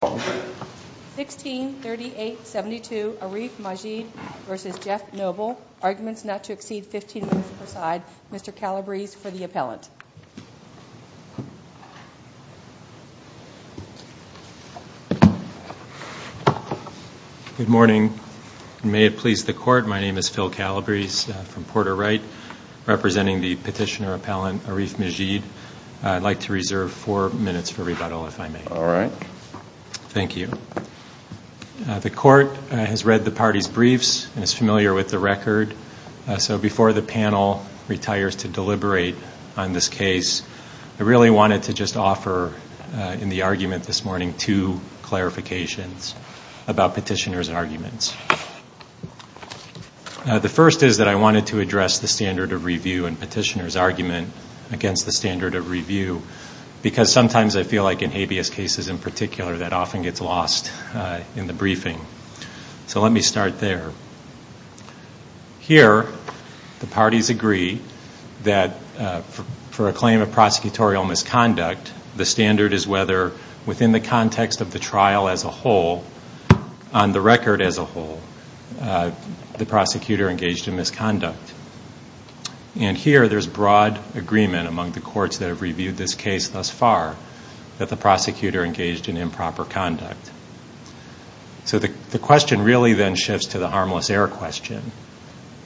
163872 Arif Majid v. Jeff Noble. Arguments not to exceed 15 minutes per side. Mr. Calabrese for the appellant. Good morning. May it please the court, my name is Phil Calabrese from Porter Wright, representing the petitioner appellant Arif Majid. I'd like to reserve four minutes for rebuttal if I may. All right. Thank you. The court has read the party's briefs and is familiar with the record, so before the panel retires to deliberate on this case, I really wanted to just offer in the argument this morning two clarifications about petitioner's arguments. The first is that I wanted to address the standard of review and petitioner's argument against the standard of review, because sometimes I feel like in habeas cases in particular that often gets lost in the briefing. So let me start there. Here, the parties agree that for a claim of prosecutorial misconduct, the standard is whether within the context of the trial as a whole, on the record as a whole, the prosecutor engaged in misconduct. And here there's broad agreement among the courts that have reviewed this case thus far that the prosecutor engaged in improper conduct. So the question really then shifts to the harmless error question.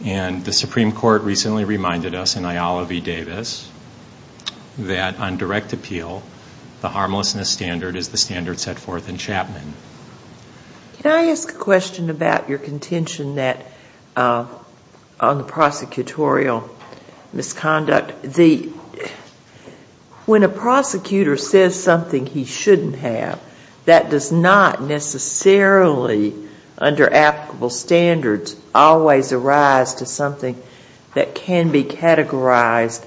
And the Supreme Court recently reminded us in Ayala v. Davis that on direct appeal, the harmlessness standard is the standard set forth in Chapman. Can I ask a question about your contention on the prosecutorial misconduct? When a prosecutor says something he shouldn't have, that does not necessarily under applicable standards always arise to something that can be categorized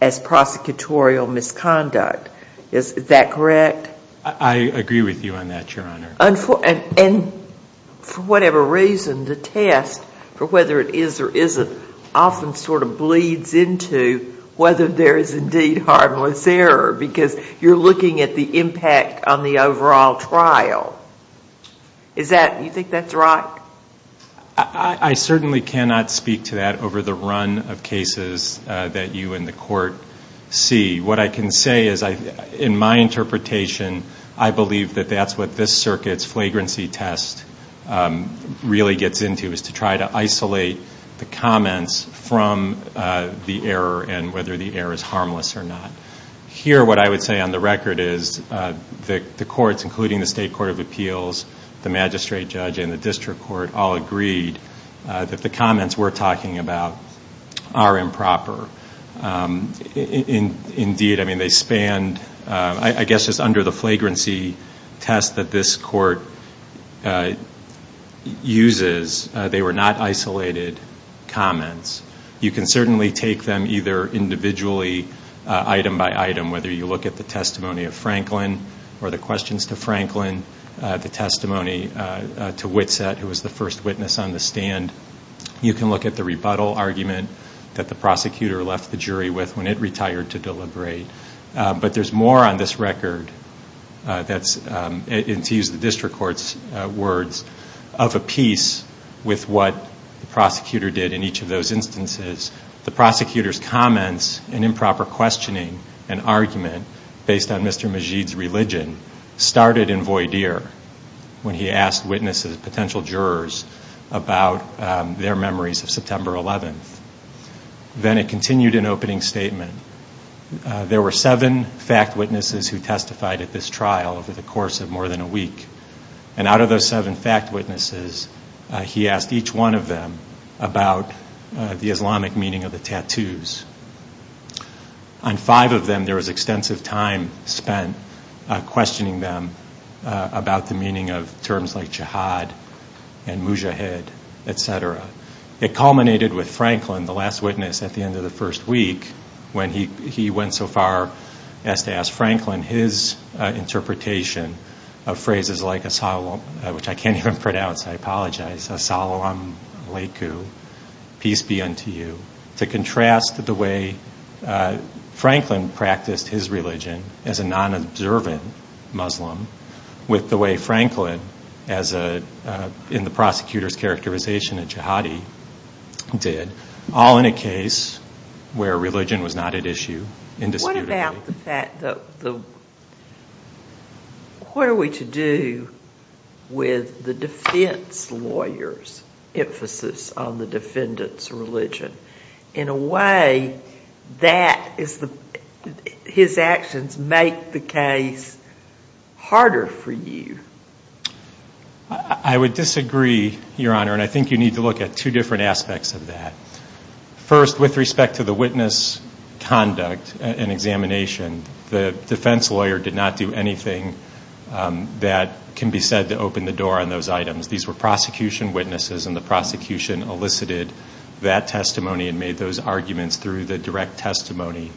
as prosecutorial misconduct. Is that correct? I agree with you on that, Your Honor. And for whatever reason, the test for whether it is or isn't often sort of bleeds into whether there is indeed harmless error because you're looking at the impact on the overall trial. Do you think that's right? I certainly cannot speak to that over the run of cases that you and the Court see. What I can say is in my interpretation, I believe that that's what this circuit's flagrancy test really gets into, is to try to isolate the comments from the error and whether the error is harmless or not. Here what I would say on the record is the courts, including the State Court of Appeals, the magistrate judge, and the district court all agreed that the comments we're talking about are improper. Indeed, I mean, they spanned, I guess just under the flagrancy test that this court uses, they were not isolated comments. You can certainly take them either individually, item by item, whether you look at the testimony of Franklin or the questions to Franklin, the testimony to Whitsett, who was the first witness on the stand. You can look at the rebuttal argument that the prosecutor left the jury with when it retired to deliberate. But there's more on this record, and to use the district court's words, of a piece with what the prosecutor did in each of those instances. The prosecutor's comments and improper questioning and argument based on Mr. Majeed's religion started in Voidere when he asked witnesses, potential jurors, about their memories of September 11th. Then it continued in opening statement. There were seven fact witnesses who testified at this trial over the course of more than a week, and out of those seven fact witnesses, he asked each one of them about the Islamic meaning of the tattoos. On five of them, there was extensive time spent questioning them about the meaning of terms like jihad and mujahid, etc. It culminated with Franklin, the last witness at the end of the first week, when he went so far as to ask Franklin his interpretation of phrases like, which I can't even pronounce, I apologize, peace be unto you, to contrast the way Franklin practiced his religion as a non-observant Muslim with the way Franklin, in the prosecutor's characterization, a jihadi did, all in a case where religion was not at issue indisputably. What are we to do with the defense lawyer's emphasis on the defendant's religion? In a way, his actions make the case harder for you. I would disagree, Your Honor, and I think you need to look at two different aspects of that. First, with respect to the witness conduct and examination, the defense lawyer did not do anything that can be said to open the door on those items. These were prosecution witnesses, and the prosecution elicited that testimony and made those arguments through the direct testimony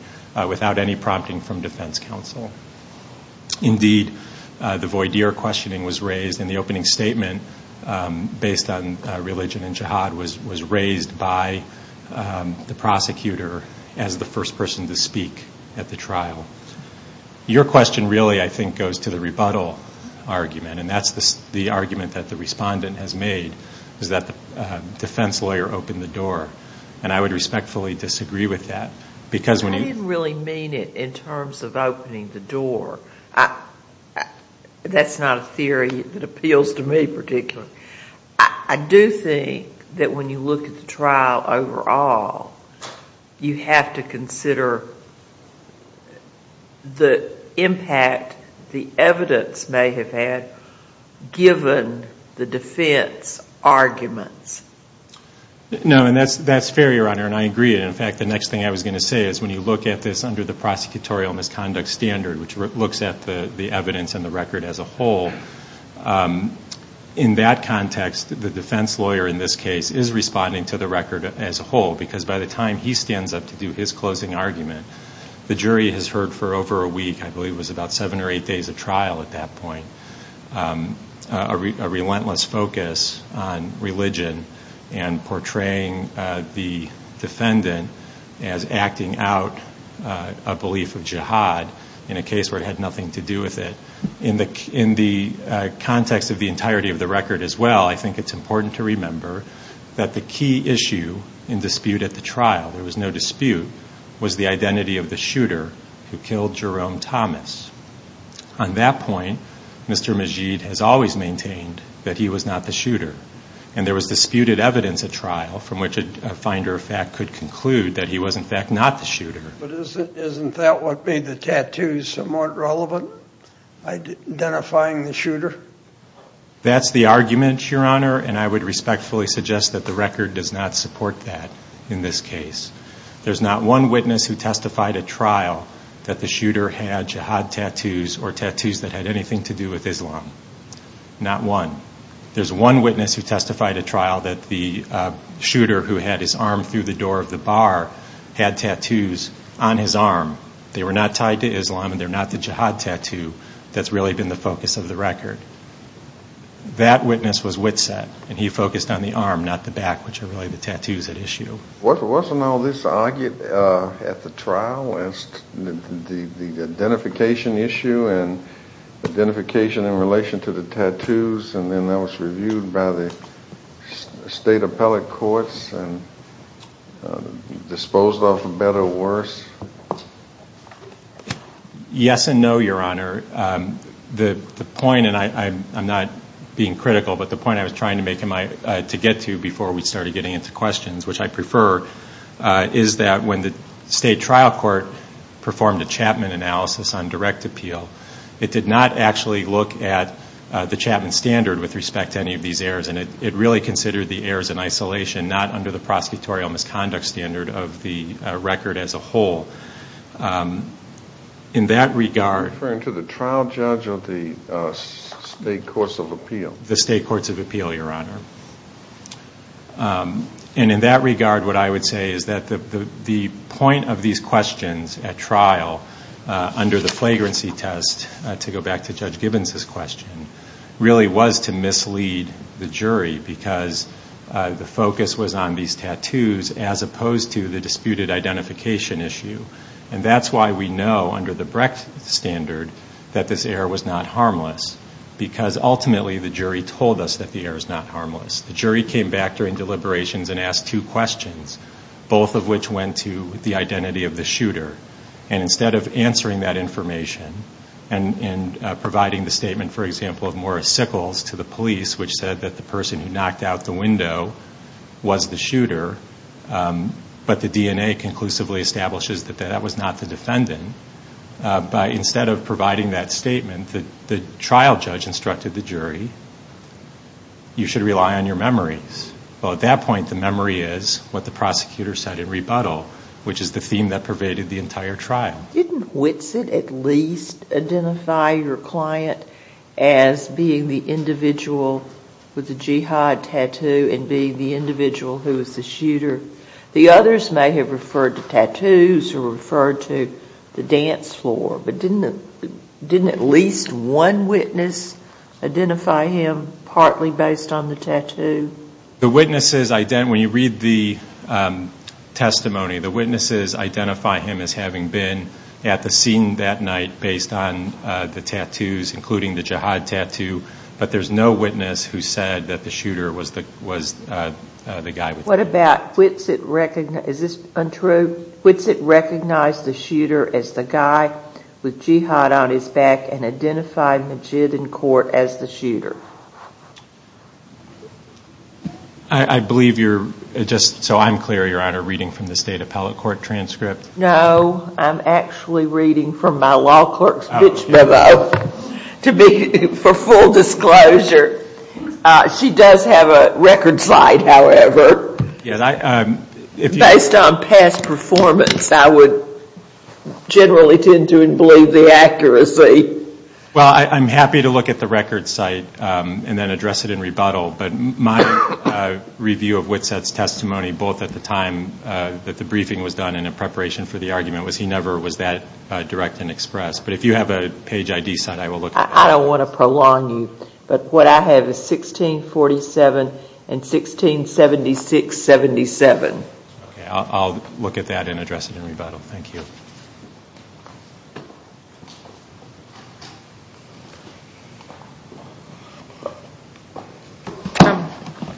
without any prompting from defense counsel. Indeed, the voidir questioning was raised, and the opening statement based on religion and jihad was raised by the prosecutor as the first person to speak at the trial. Your question really, I think, goes to the rebuttal argument, and that's the argument that the respondent has made, is that the defense lawyer opened the door, and I would respectfully disagree with that. I didn't really mean it in terms of opening the door. That's not a theory that appeals to me particularly. I do think that when you look at the trial overall, you have to consider the impact the evidence may have had given the defense arguments. No, and that's fair, Your Honor, and I agree. In fact, the next thing I was going to say is when you look at this under the prosecutorial misconduct standard, which looks at the evidence and the record as a whole, in that context, the defense lawyer in this case is responding to the record as a whole, because by the time he stands up to do his closing argument, the jury has heard for over a week, I believe it was about seven or eight days of trial at that point, a relentless focus on religion and portraying the defendant as acting out a belief of jihad in a case where it had nothing to do with it. In the context of the entirety of the record as well, I think it's important to remember that the key issue in dispute at the trial, there was no dispute, was the identity of the shooter who killed Jerome Thomas. On that point, Mr. Majeed has always maintained that he was not the shooter, and there was disputed evidence at trial from which a finder of fact could conclude that he was, in fact, not the shooter. But isn't that what made the tattoos somewhat relevant, identifying the shooter? That's the argument, Your Honor, and I would respectfully suggest that the record does not support that in this case. There's not one witness who testified at trial that the shooter had jihad tattoos or tattoos that had anything to do with Islam, not one. There's one witness who testified at trial that the shooter who had his arm through the door of the bar had tattoos on his arm. They were not tied to Islam, and they're not the jihad tattoo that's really been the focus of the record. That witness was Witset, and he focused on the arm, not the back, which are really the tattoos at issue. Wasn't all this argued at the trial as the identification issue and identification in relation to the tattoos, and then that was reviewed by the state appellate courts and disposed of for better or worse? Yes and no, Your Honor. The point, and I'm not being critical, but the point I was trying to get to before we started getting into questions, which I prefer, is that when the state trial court performed a Chapman analysis on direct appeal, it did not actually look at the Chapman standard with respect to any of these errors, and it really considered the errors in isolation, not under the prosecutorial misconduct standard of the record as a whole. In that regard- Are you referring to the trial judge or the state courts of appeal? The state courts of appeal, Your Honor. And in that regard, what I would say is that the point of these questions at trial under the flagrancy test, to go back to Judge Gibbons' question, really was to mislead the jury because the focus was on these tattoos as opposed to the disputed identification issue, and that's why we know under the Brecht standard that this error was not harmless because ultimately the jury told us that the error is not harmless. The jury came back during deliberations and asked two questions, both of which went to the identity of the shooter, and instead of answering that information and providing the statement, for example, of Morris Sickles to the police, which said that the person who knocked out the window was the shooter, but the DNA conclusively establishes that that was not the defendant, by instead of providing that statement, the trial judge instructed the jury, you should rely on your memories. Well, at that point, the memory is what the prosecutor said in rebuttal, which is the theme that pervaded the entire trial. Didn't Whitsitt at least identify your client as being the individual with the jihad tattoo and being the individual who was the shooter? The others may have referred to tattoos or referred to the dance floor, but didn't at least one witness identify him partly based on the tattoo? The witnesses, when you read the testimony, the witnesses identify him as having been at the scene that night based on the tattoos, including the jihad tattoo, but there's no witness who said that the shooter was the guy with the tattoo. What about Whitsitt, is this untrue? Whitsitt recognized the shooter as the guy with jihad on his back and identified Majid in court as the shooter. I believe you're, just so I'm clear, Your Honor, reading from the State Appellate Court transcript. No, I'm actually reading from my law clerk's pitch memo for full disclosure. She does have a record site, however. Based on past performance, I would generally tend to believe the accuracy. Well, I'm happy to look at the record site and then address it in rebuttal, but my review of Whitsitt's testimony, both at the time that the briefing was done and in preparation for the argument, was he never was that direct and express. But if you have a page ID site, I will look at that. I don't want to prolong you, but what I have is 1647 and 1676-77. Okay, I'll look at that and address it in rebuttal. Thank you.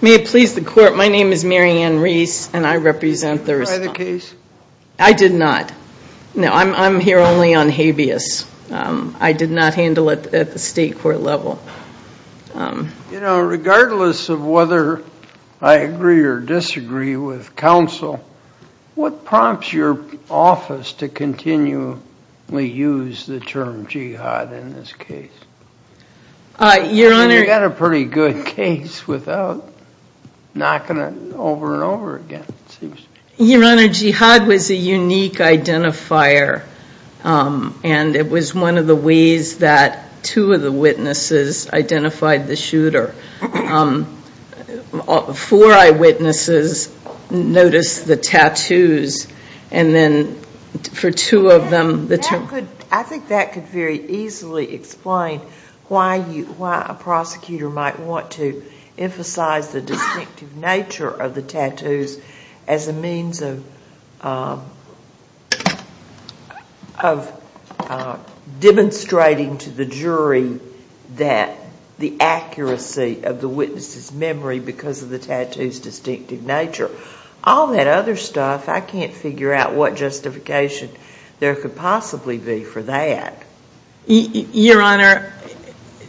May it please the Court, my name is Mary Ann Reese and I represent Thurston. Did you try the case? I did not. No, I'm here only on habeas. I did not handle it at the state court level. You know, regardless of whether I agree or disagree with counsel, what prompts your office to continually use the term jihad in this case? You've got a pretty good case without knocking it over and over again, it seems. Your Honor, jihad was a unique identifier and it was one of the ways that two of the witnesses identified the shooter. Four eyewitnesses noticed the tattoos and then for two of them the term. I think that could very easily explain why a prosecutor might want to emphasize the distinctive nature of the tattoos as a means of demonstrating to the jury that the accuracy of the witness's memory because of the tattoo's distinctive nature. All that other stuff, I can't figure out what justification there could possibly be for that. Your Honor,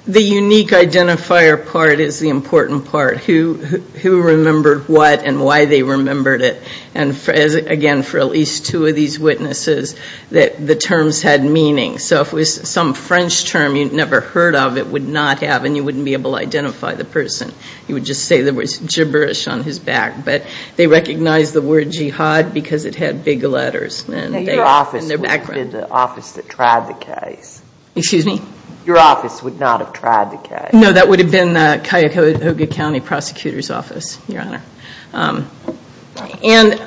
the unique identifier part is the important part, who remembered what and why they remembered it. And again, for at least two of these witnesses, the terms had meaning. So if it was some French term you'd never heard of, it would not have and you wouldn't be able to identify the person. You would just say there was gibberish on his back. But they recognized the word jihad because it had big letters in their background. That would have been the office that tried the case. Excuse me? Your office would not have tried the case. No, that would have been the Cuyahoga County Prosecutor's Office, Your Honor. And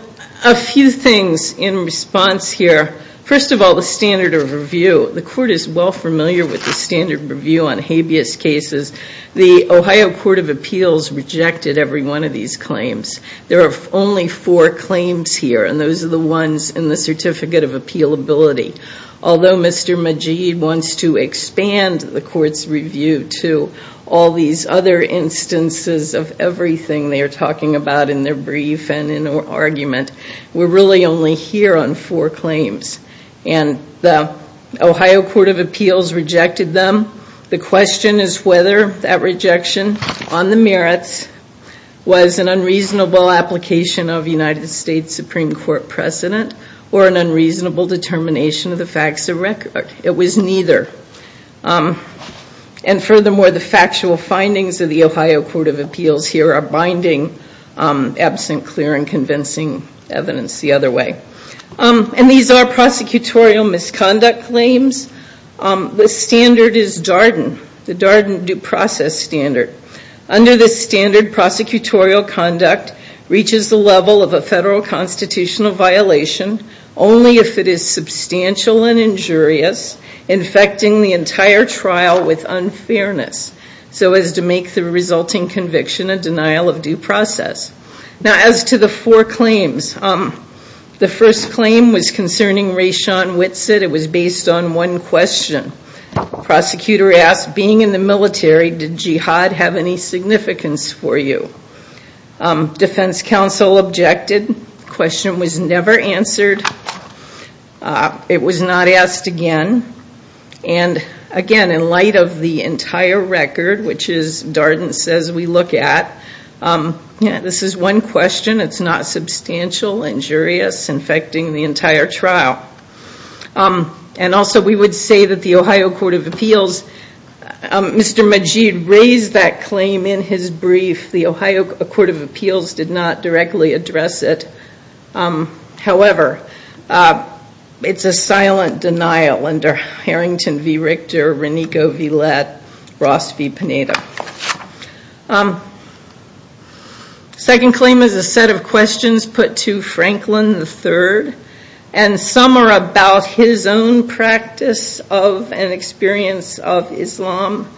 a few things in response here. First of all, the standard of review. The Court is well familiar with the standard review on habeas cases. The Ohio Court of Appeals rejected every one of these claims. There are only four claims here, and those are the ones in the Certificate of Appealability. Although Mr. Majeed wants to expand the Court's review to all these other instances of everything they are talking about in their brief and in their argument, we're really only here on four claims. And the Ohio Court of Appeals rejected them. The question is whether that rejection, on the merits, was an unreasonable application of United States Supreme Court precedent or an unreasonable determination of the facts of record. It was neither. And furthermore, the factual findings of the Ohio Court of Appeals here are binding, absent clear and convincing evidence the other way. And these are prosecutorial misconduct claims. The standard is Darden, the Darden due process standard. Under this standard, prosecutorial conduct reaches the level of a federal constitutional violation only if it is substantial and injurious, infecting the entire trial with unfairness, so as to make the resulting conviction a denial of due process. Now, as to the four claims, the first claim was concerning Rayshon Whitsitt. It was based on one question. The prosecutor asked, being in the military, did jihad have any significance for you? Defense counsel objected. The question was never answered. It was not asked again. And, again, in light of the entire record, which is Darden says we look at, this is one question, it's not substantial, injurious, infecting the entire trial. And also we would say that the Ohio Court of Appeals, Mr. Majeed raised that claim in his brief. The Ohio Court of Appeals did not directly address it. However, it's a silent denial under Harrington v. Richter, Renico v. Lett, Ross v. Panetta. The second claim is a set of questions put to Franklin III. And some are about his own practice of and experience of Islam.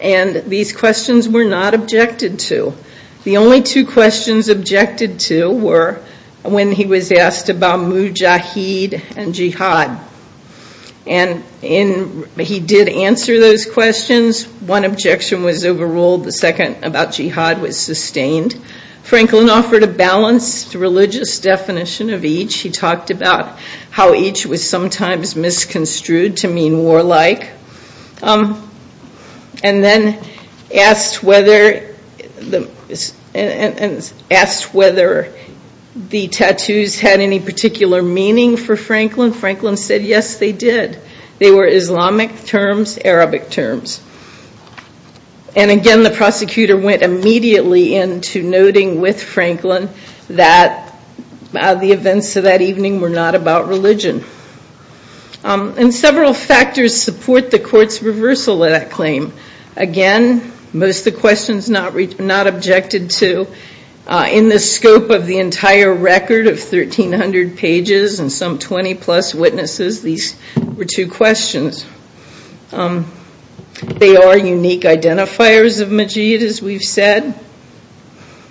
And these questions were not objected to. The only two questions objected to were when he was asked about mujahid and jihad. And he did answer those questions. One objection was overruled. The second about jihad was sustained. Franklin offered a balanced religious definition of each. He talked about how each was sometimes misconstrued to mean warlike. And then asked whether the tattoos had any particular meaning for Franklin. Franklin said, yes, they did. They were Islamic terms, Arabic terms. And again, the prosecutor went immediately into noting with Franklin that the events of that evening were not about religion. And several factors support the court's reversal of that claim. Again, most of the questions not objected to. In the scope of the entire record of 1,300 pages and some 20-plus witnesses, these were two questions. They are unique identifiers of mujahid, as we've said.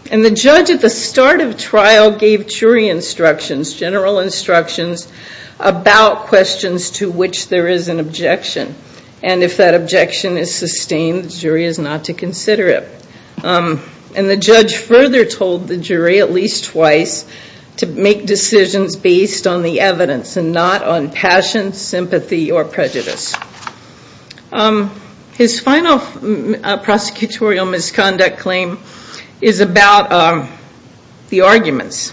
And the judge at the start of trial gave jury instructions, general instructions, about questions to which there is an objection. And if that objection is sustained, the jury is not to consider it. And the judge further told the jury at least twice to make decisions based on the evidence and not on passion, sympathy, or prejudice. His final prosecutorial misconduct claim is about the arguments.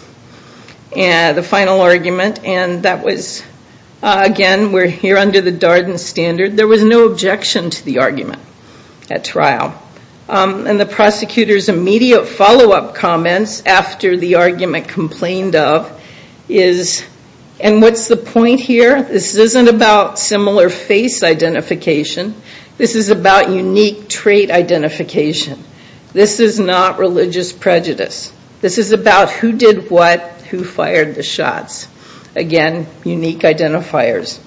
The final argument, and that was, again, we're here under the Darden standard. And the prosecutor's immediate follow-up comments after the argument complained of is, and what's the point here? This isn't about similar face identification. This is about unique trait identification. This is not religious prejudice. This is about who did what, who fired the shots. Again, unique identifiers.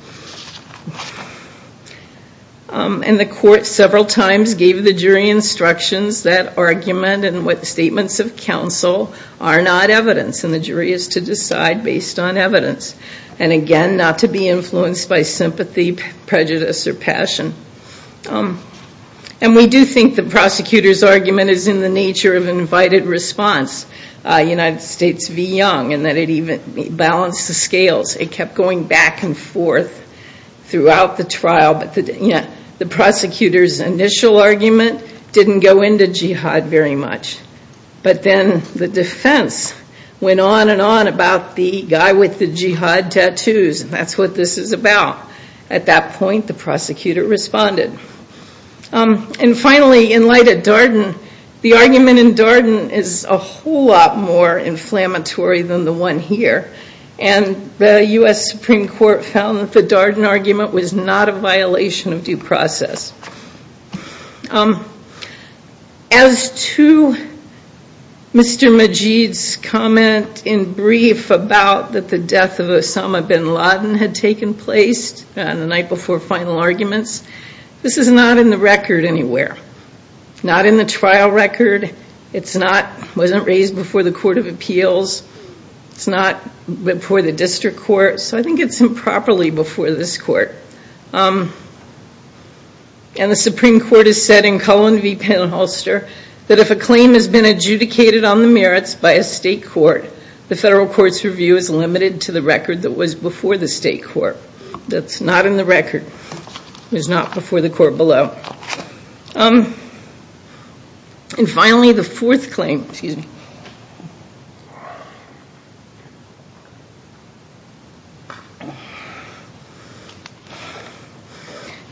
And the court several times gave the jury instructions that argument and what statements of counsel are not evidence, and the jury is to decide based on evidence. And, again, not to be influenced by sympathy, prejudice, or passion. And we do think the prosecutor's argument is in the nature of an invited response, United States v. Young, and that it even balanced the scales. It kept going back and forth. Throughout the trial, but the prosecutor's initial argument didn't go into jihad very much. But then the defense went on and on about the guy with the jihad tattoos, and that's what this is about. At that point, the prosecutor responded. And, finally, in light of Darden, the argument in Darden is a whole lot more inflammatory than the one here. And the U.S. Supreme Court found that the Darden argument was not a violation of due process. As to Mr. Majeed's comment in brief about that the death of Osama bin Laden had taken place on the night before final arguments, this is not in the record anywhere. Not in the trial record. It's not before the district court. So I think it's improperly before this court. And the Supreme Court has said in Cullen v. Penholster that if a claim has been adjudicated on the merits by a state court, the federal court's review is limited to the record that was before the state court. That's not in the record. It was not before the court below. And, finally, the fourth claim.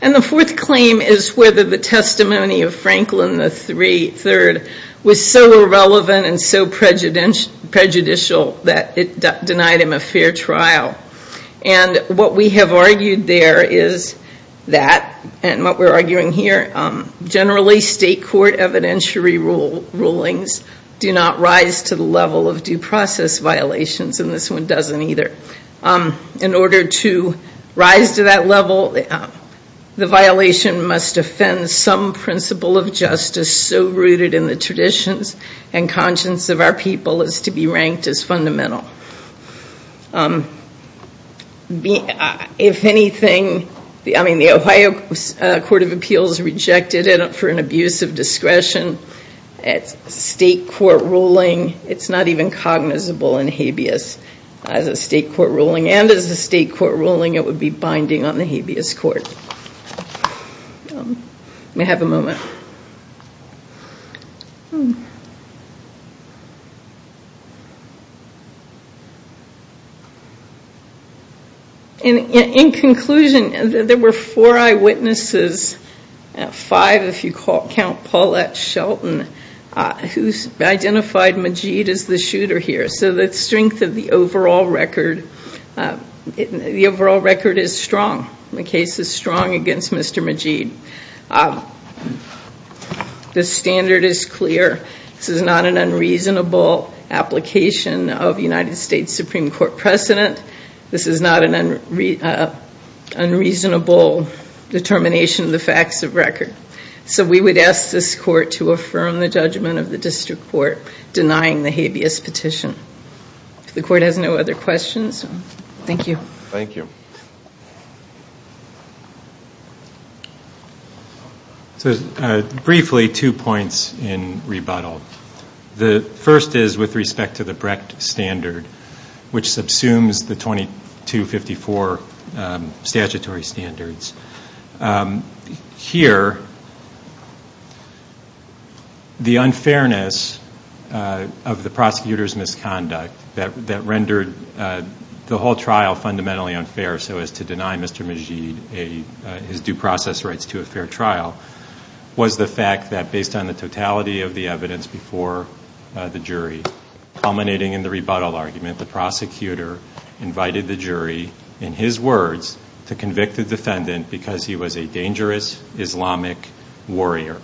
And the fourth claim is whether the testimony of Franklin III was so irrelevant and so prejudicial that it denied him a fair trial. And what we have argued there is that, and what we're arguing here, generally state court evidentiary rulings do not rise to the level of due process violations. And this one doesn't either. In order to rise to that level, the violation must offend some principle of justice so rooted in the traditions and conscience of our people as to be ranked as fundamental. If anything, I mean, the Ohio Court of Appeals rejected it for an abuse of discretion. It's a state court ruling. It's not even cognizable in habeas as a state court ruling. And as a state court ruling, it would be binding on the habeas court. May I have a moment? In conclusion, there were four eyewitnesses, five if you count Paulette Shelton, who identified Majeed as the shooter here. So the strength of the overall record, the overall record is strong. The case is strong against Mr. Majeed. The standard is clear. This is not an unreasonable application of United States Supreme Court precedent. This is not an unreasonable determination of the facts of record. So we would ask this court to affirm the judgment of the district court denying the habeas petition. If the court has no other questions, thank you. Thank you. So briefly, two points in rebuttal. The first is with respect to the Brecht standard, which subsumes the 2254 statutory standards. Here, the unfairness of the prosecutor's misconduct that rendered the whole trial fundamentally unfair, so as to deny Mr. Majeed his due process rights to a fair trial, was the fact that based on the totality of the evidence before the jury, culminating in the rebuttal argument, the prosecutor invited the jury, in his words, to convict the defendant because he was a dangerous Islamic warrior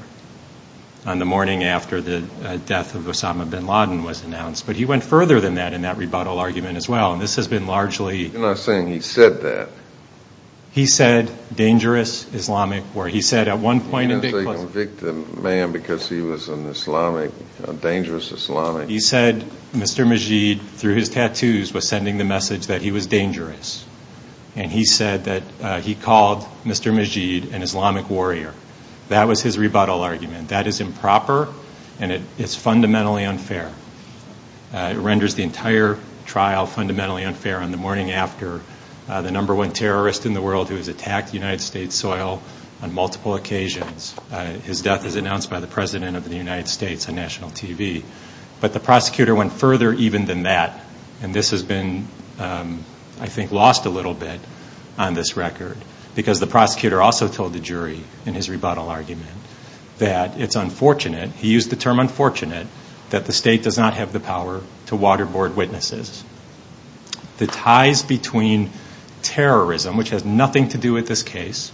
on the morning after the death of Osama bin Laden was announced. But he went further than that in that rebuttal argument as well. You're not saying he said that. He said dangerous Islamic warrior. He said at one point in big question. He didn't say convict the man because he was an Islamic, a dangerous Islamic. He said Mr. Majeed, through his tattoos, was sending the message that he was dangerous. And he said that he called Mr. Majeed an Islamic warrior. That was his rebuttal argument. That is improper, and it's fundamentally unfair. It renders the entire trial fundamentally unfair on the morning after the number one terrorist in the world who has attacked United States soil on multiple occasions. His death is announced by the President of the United States on national TV. But the prosecutor went further even than that, and this has been, I think, lost a little bit on this record because the prosecutor also told the jury in his rebuttal argument that it's unfortunate, he used the term unfortunate, that the state does not have the power to waterboard witnesses. The ties between terrorism, which has nothing to do with this case,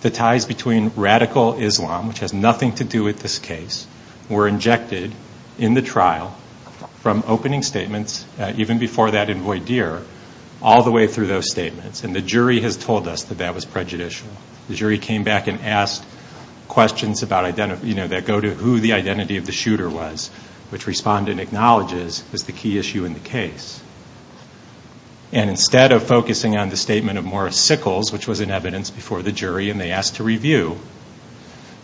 the ties between radical Islam, which has nothing to do with this case, were injected in the trial from opening statements even before that in Voidir all the way through those statements, and the jury has told us that that was prejudicial. The jury came back and asked questions that go to who the identity of the shooter was, which respondent acknowledges is the key issue in the case. Instead of focusing on the statement of Morris Sickles, which was in evidence before the jury, and they asked to review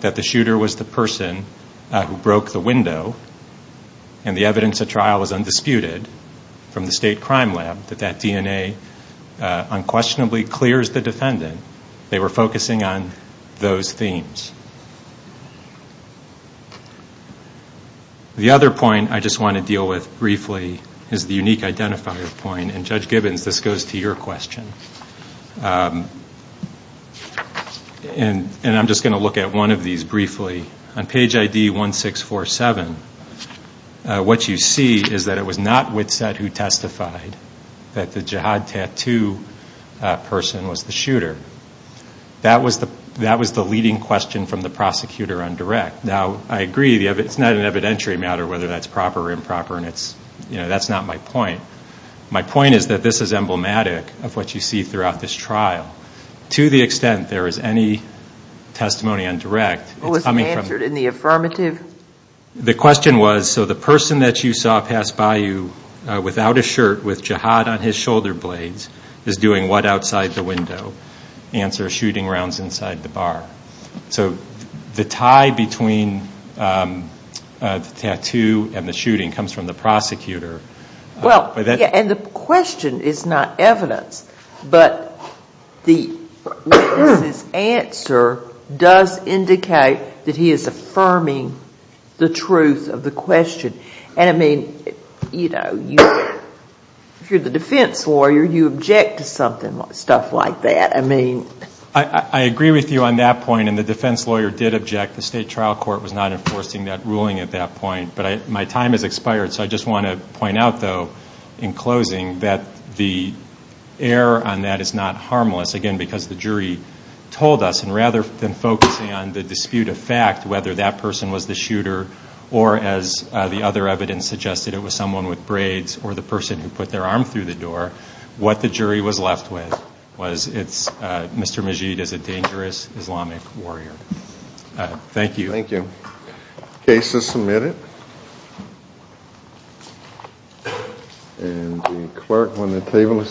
that the shooter was the person who broke the window and the evidence at trial was undisputed from the state crime lab, that that DNA unquestionably clears the defendant, they were focusing on those themes. The other point I just want to deal with briefly is the unique identifier point, and Judge Gibbons, this goes to your question, and I'm just going to look at one of these briefly. On page ID 1647, what you see is that it was not Witset who testified that the jihad tattoo person was the shooter. That was the leading question from the prosecutor on direct. Now, I agree, it's not an evidentiary matter whether that's proper or improper, and that's not my point. My point is that this is emblematic of what you see throughout this trial. To the extent there is any testimony on direct, it's coming from- It wasn't answered in the affirmative? The question was, so the person that you saw pass by you without a shirt, with jihad on his shoulder blades, is doing what outside the window? Answer, shooting rounds inside the bar. So the tie between the tattoo and the shooting comes from the prosecutor. And the question is not evidence, but Witset's answer does indicate that he is affirming the truth of the question. And, I mean, you know, if you're the defense lawyer, you object to stuff like that. I mean- I agree with you on that point, and the defense lawyer did object. The state trial court was not enforcing that ruling at that point. But my time has expired, so I just want to point out, though, in closing, that the error on that is not harmless. Again, because the jury told us, and rather than focusing on the dispute of fact, whether that person was the shooter or, as the other evidence suggested, it was someone with braids or the person who put their arm through the door, what the jury was left with was Mr. Majeed is a dangerous Islamic warrior. Thank you. Thank you. The case is submitted.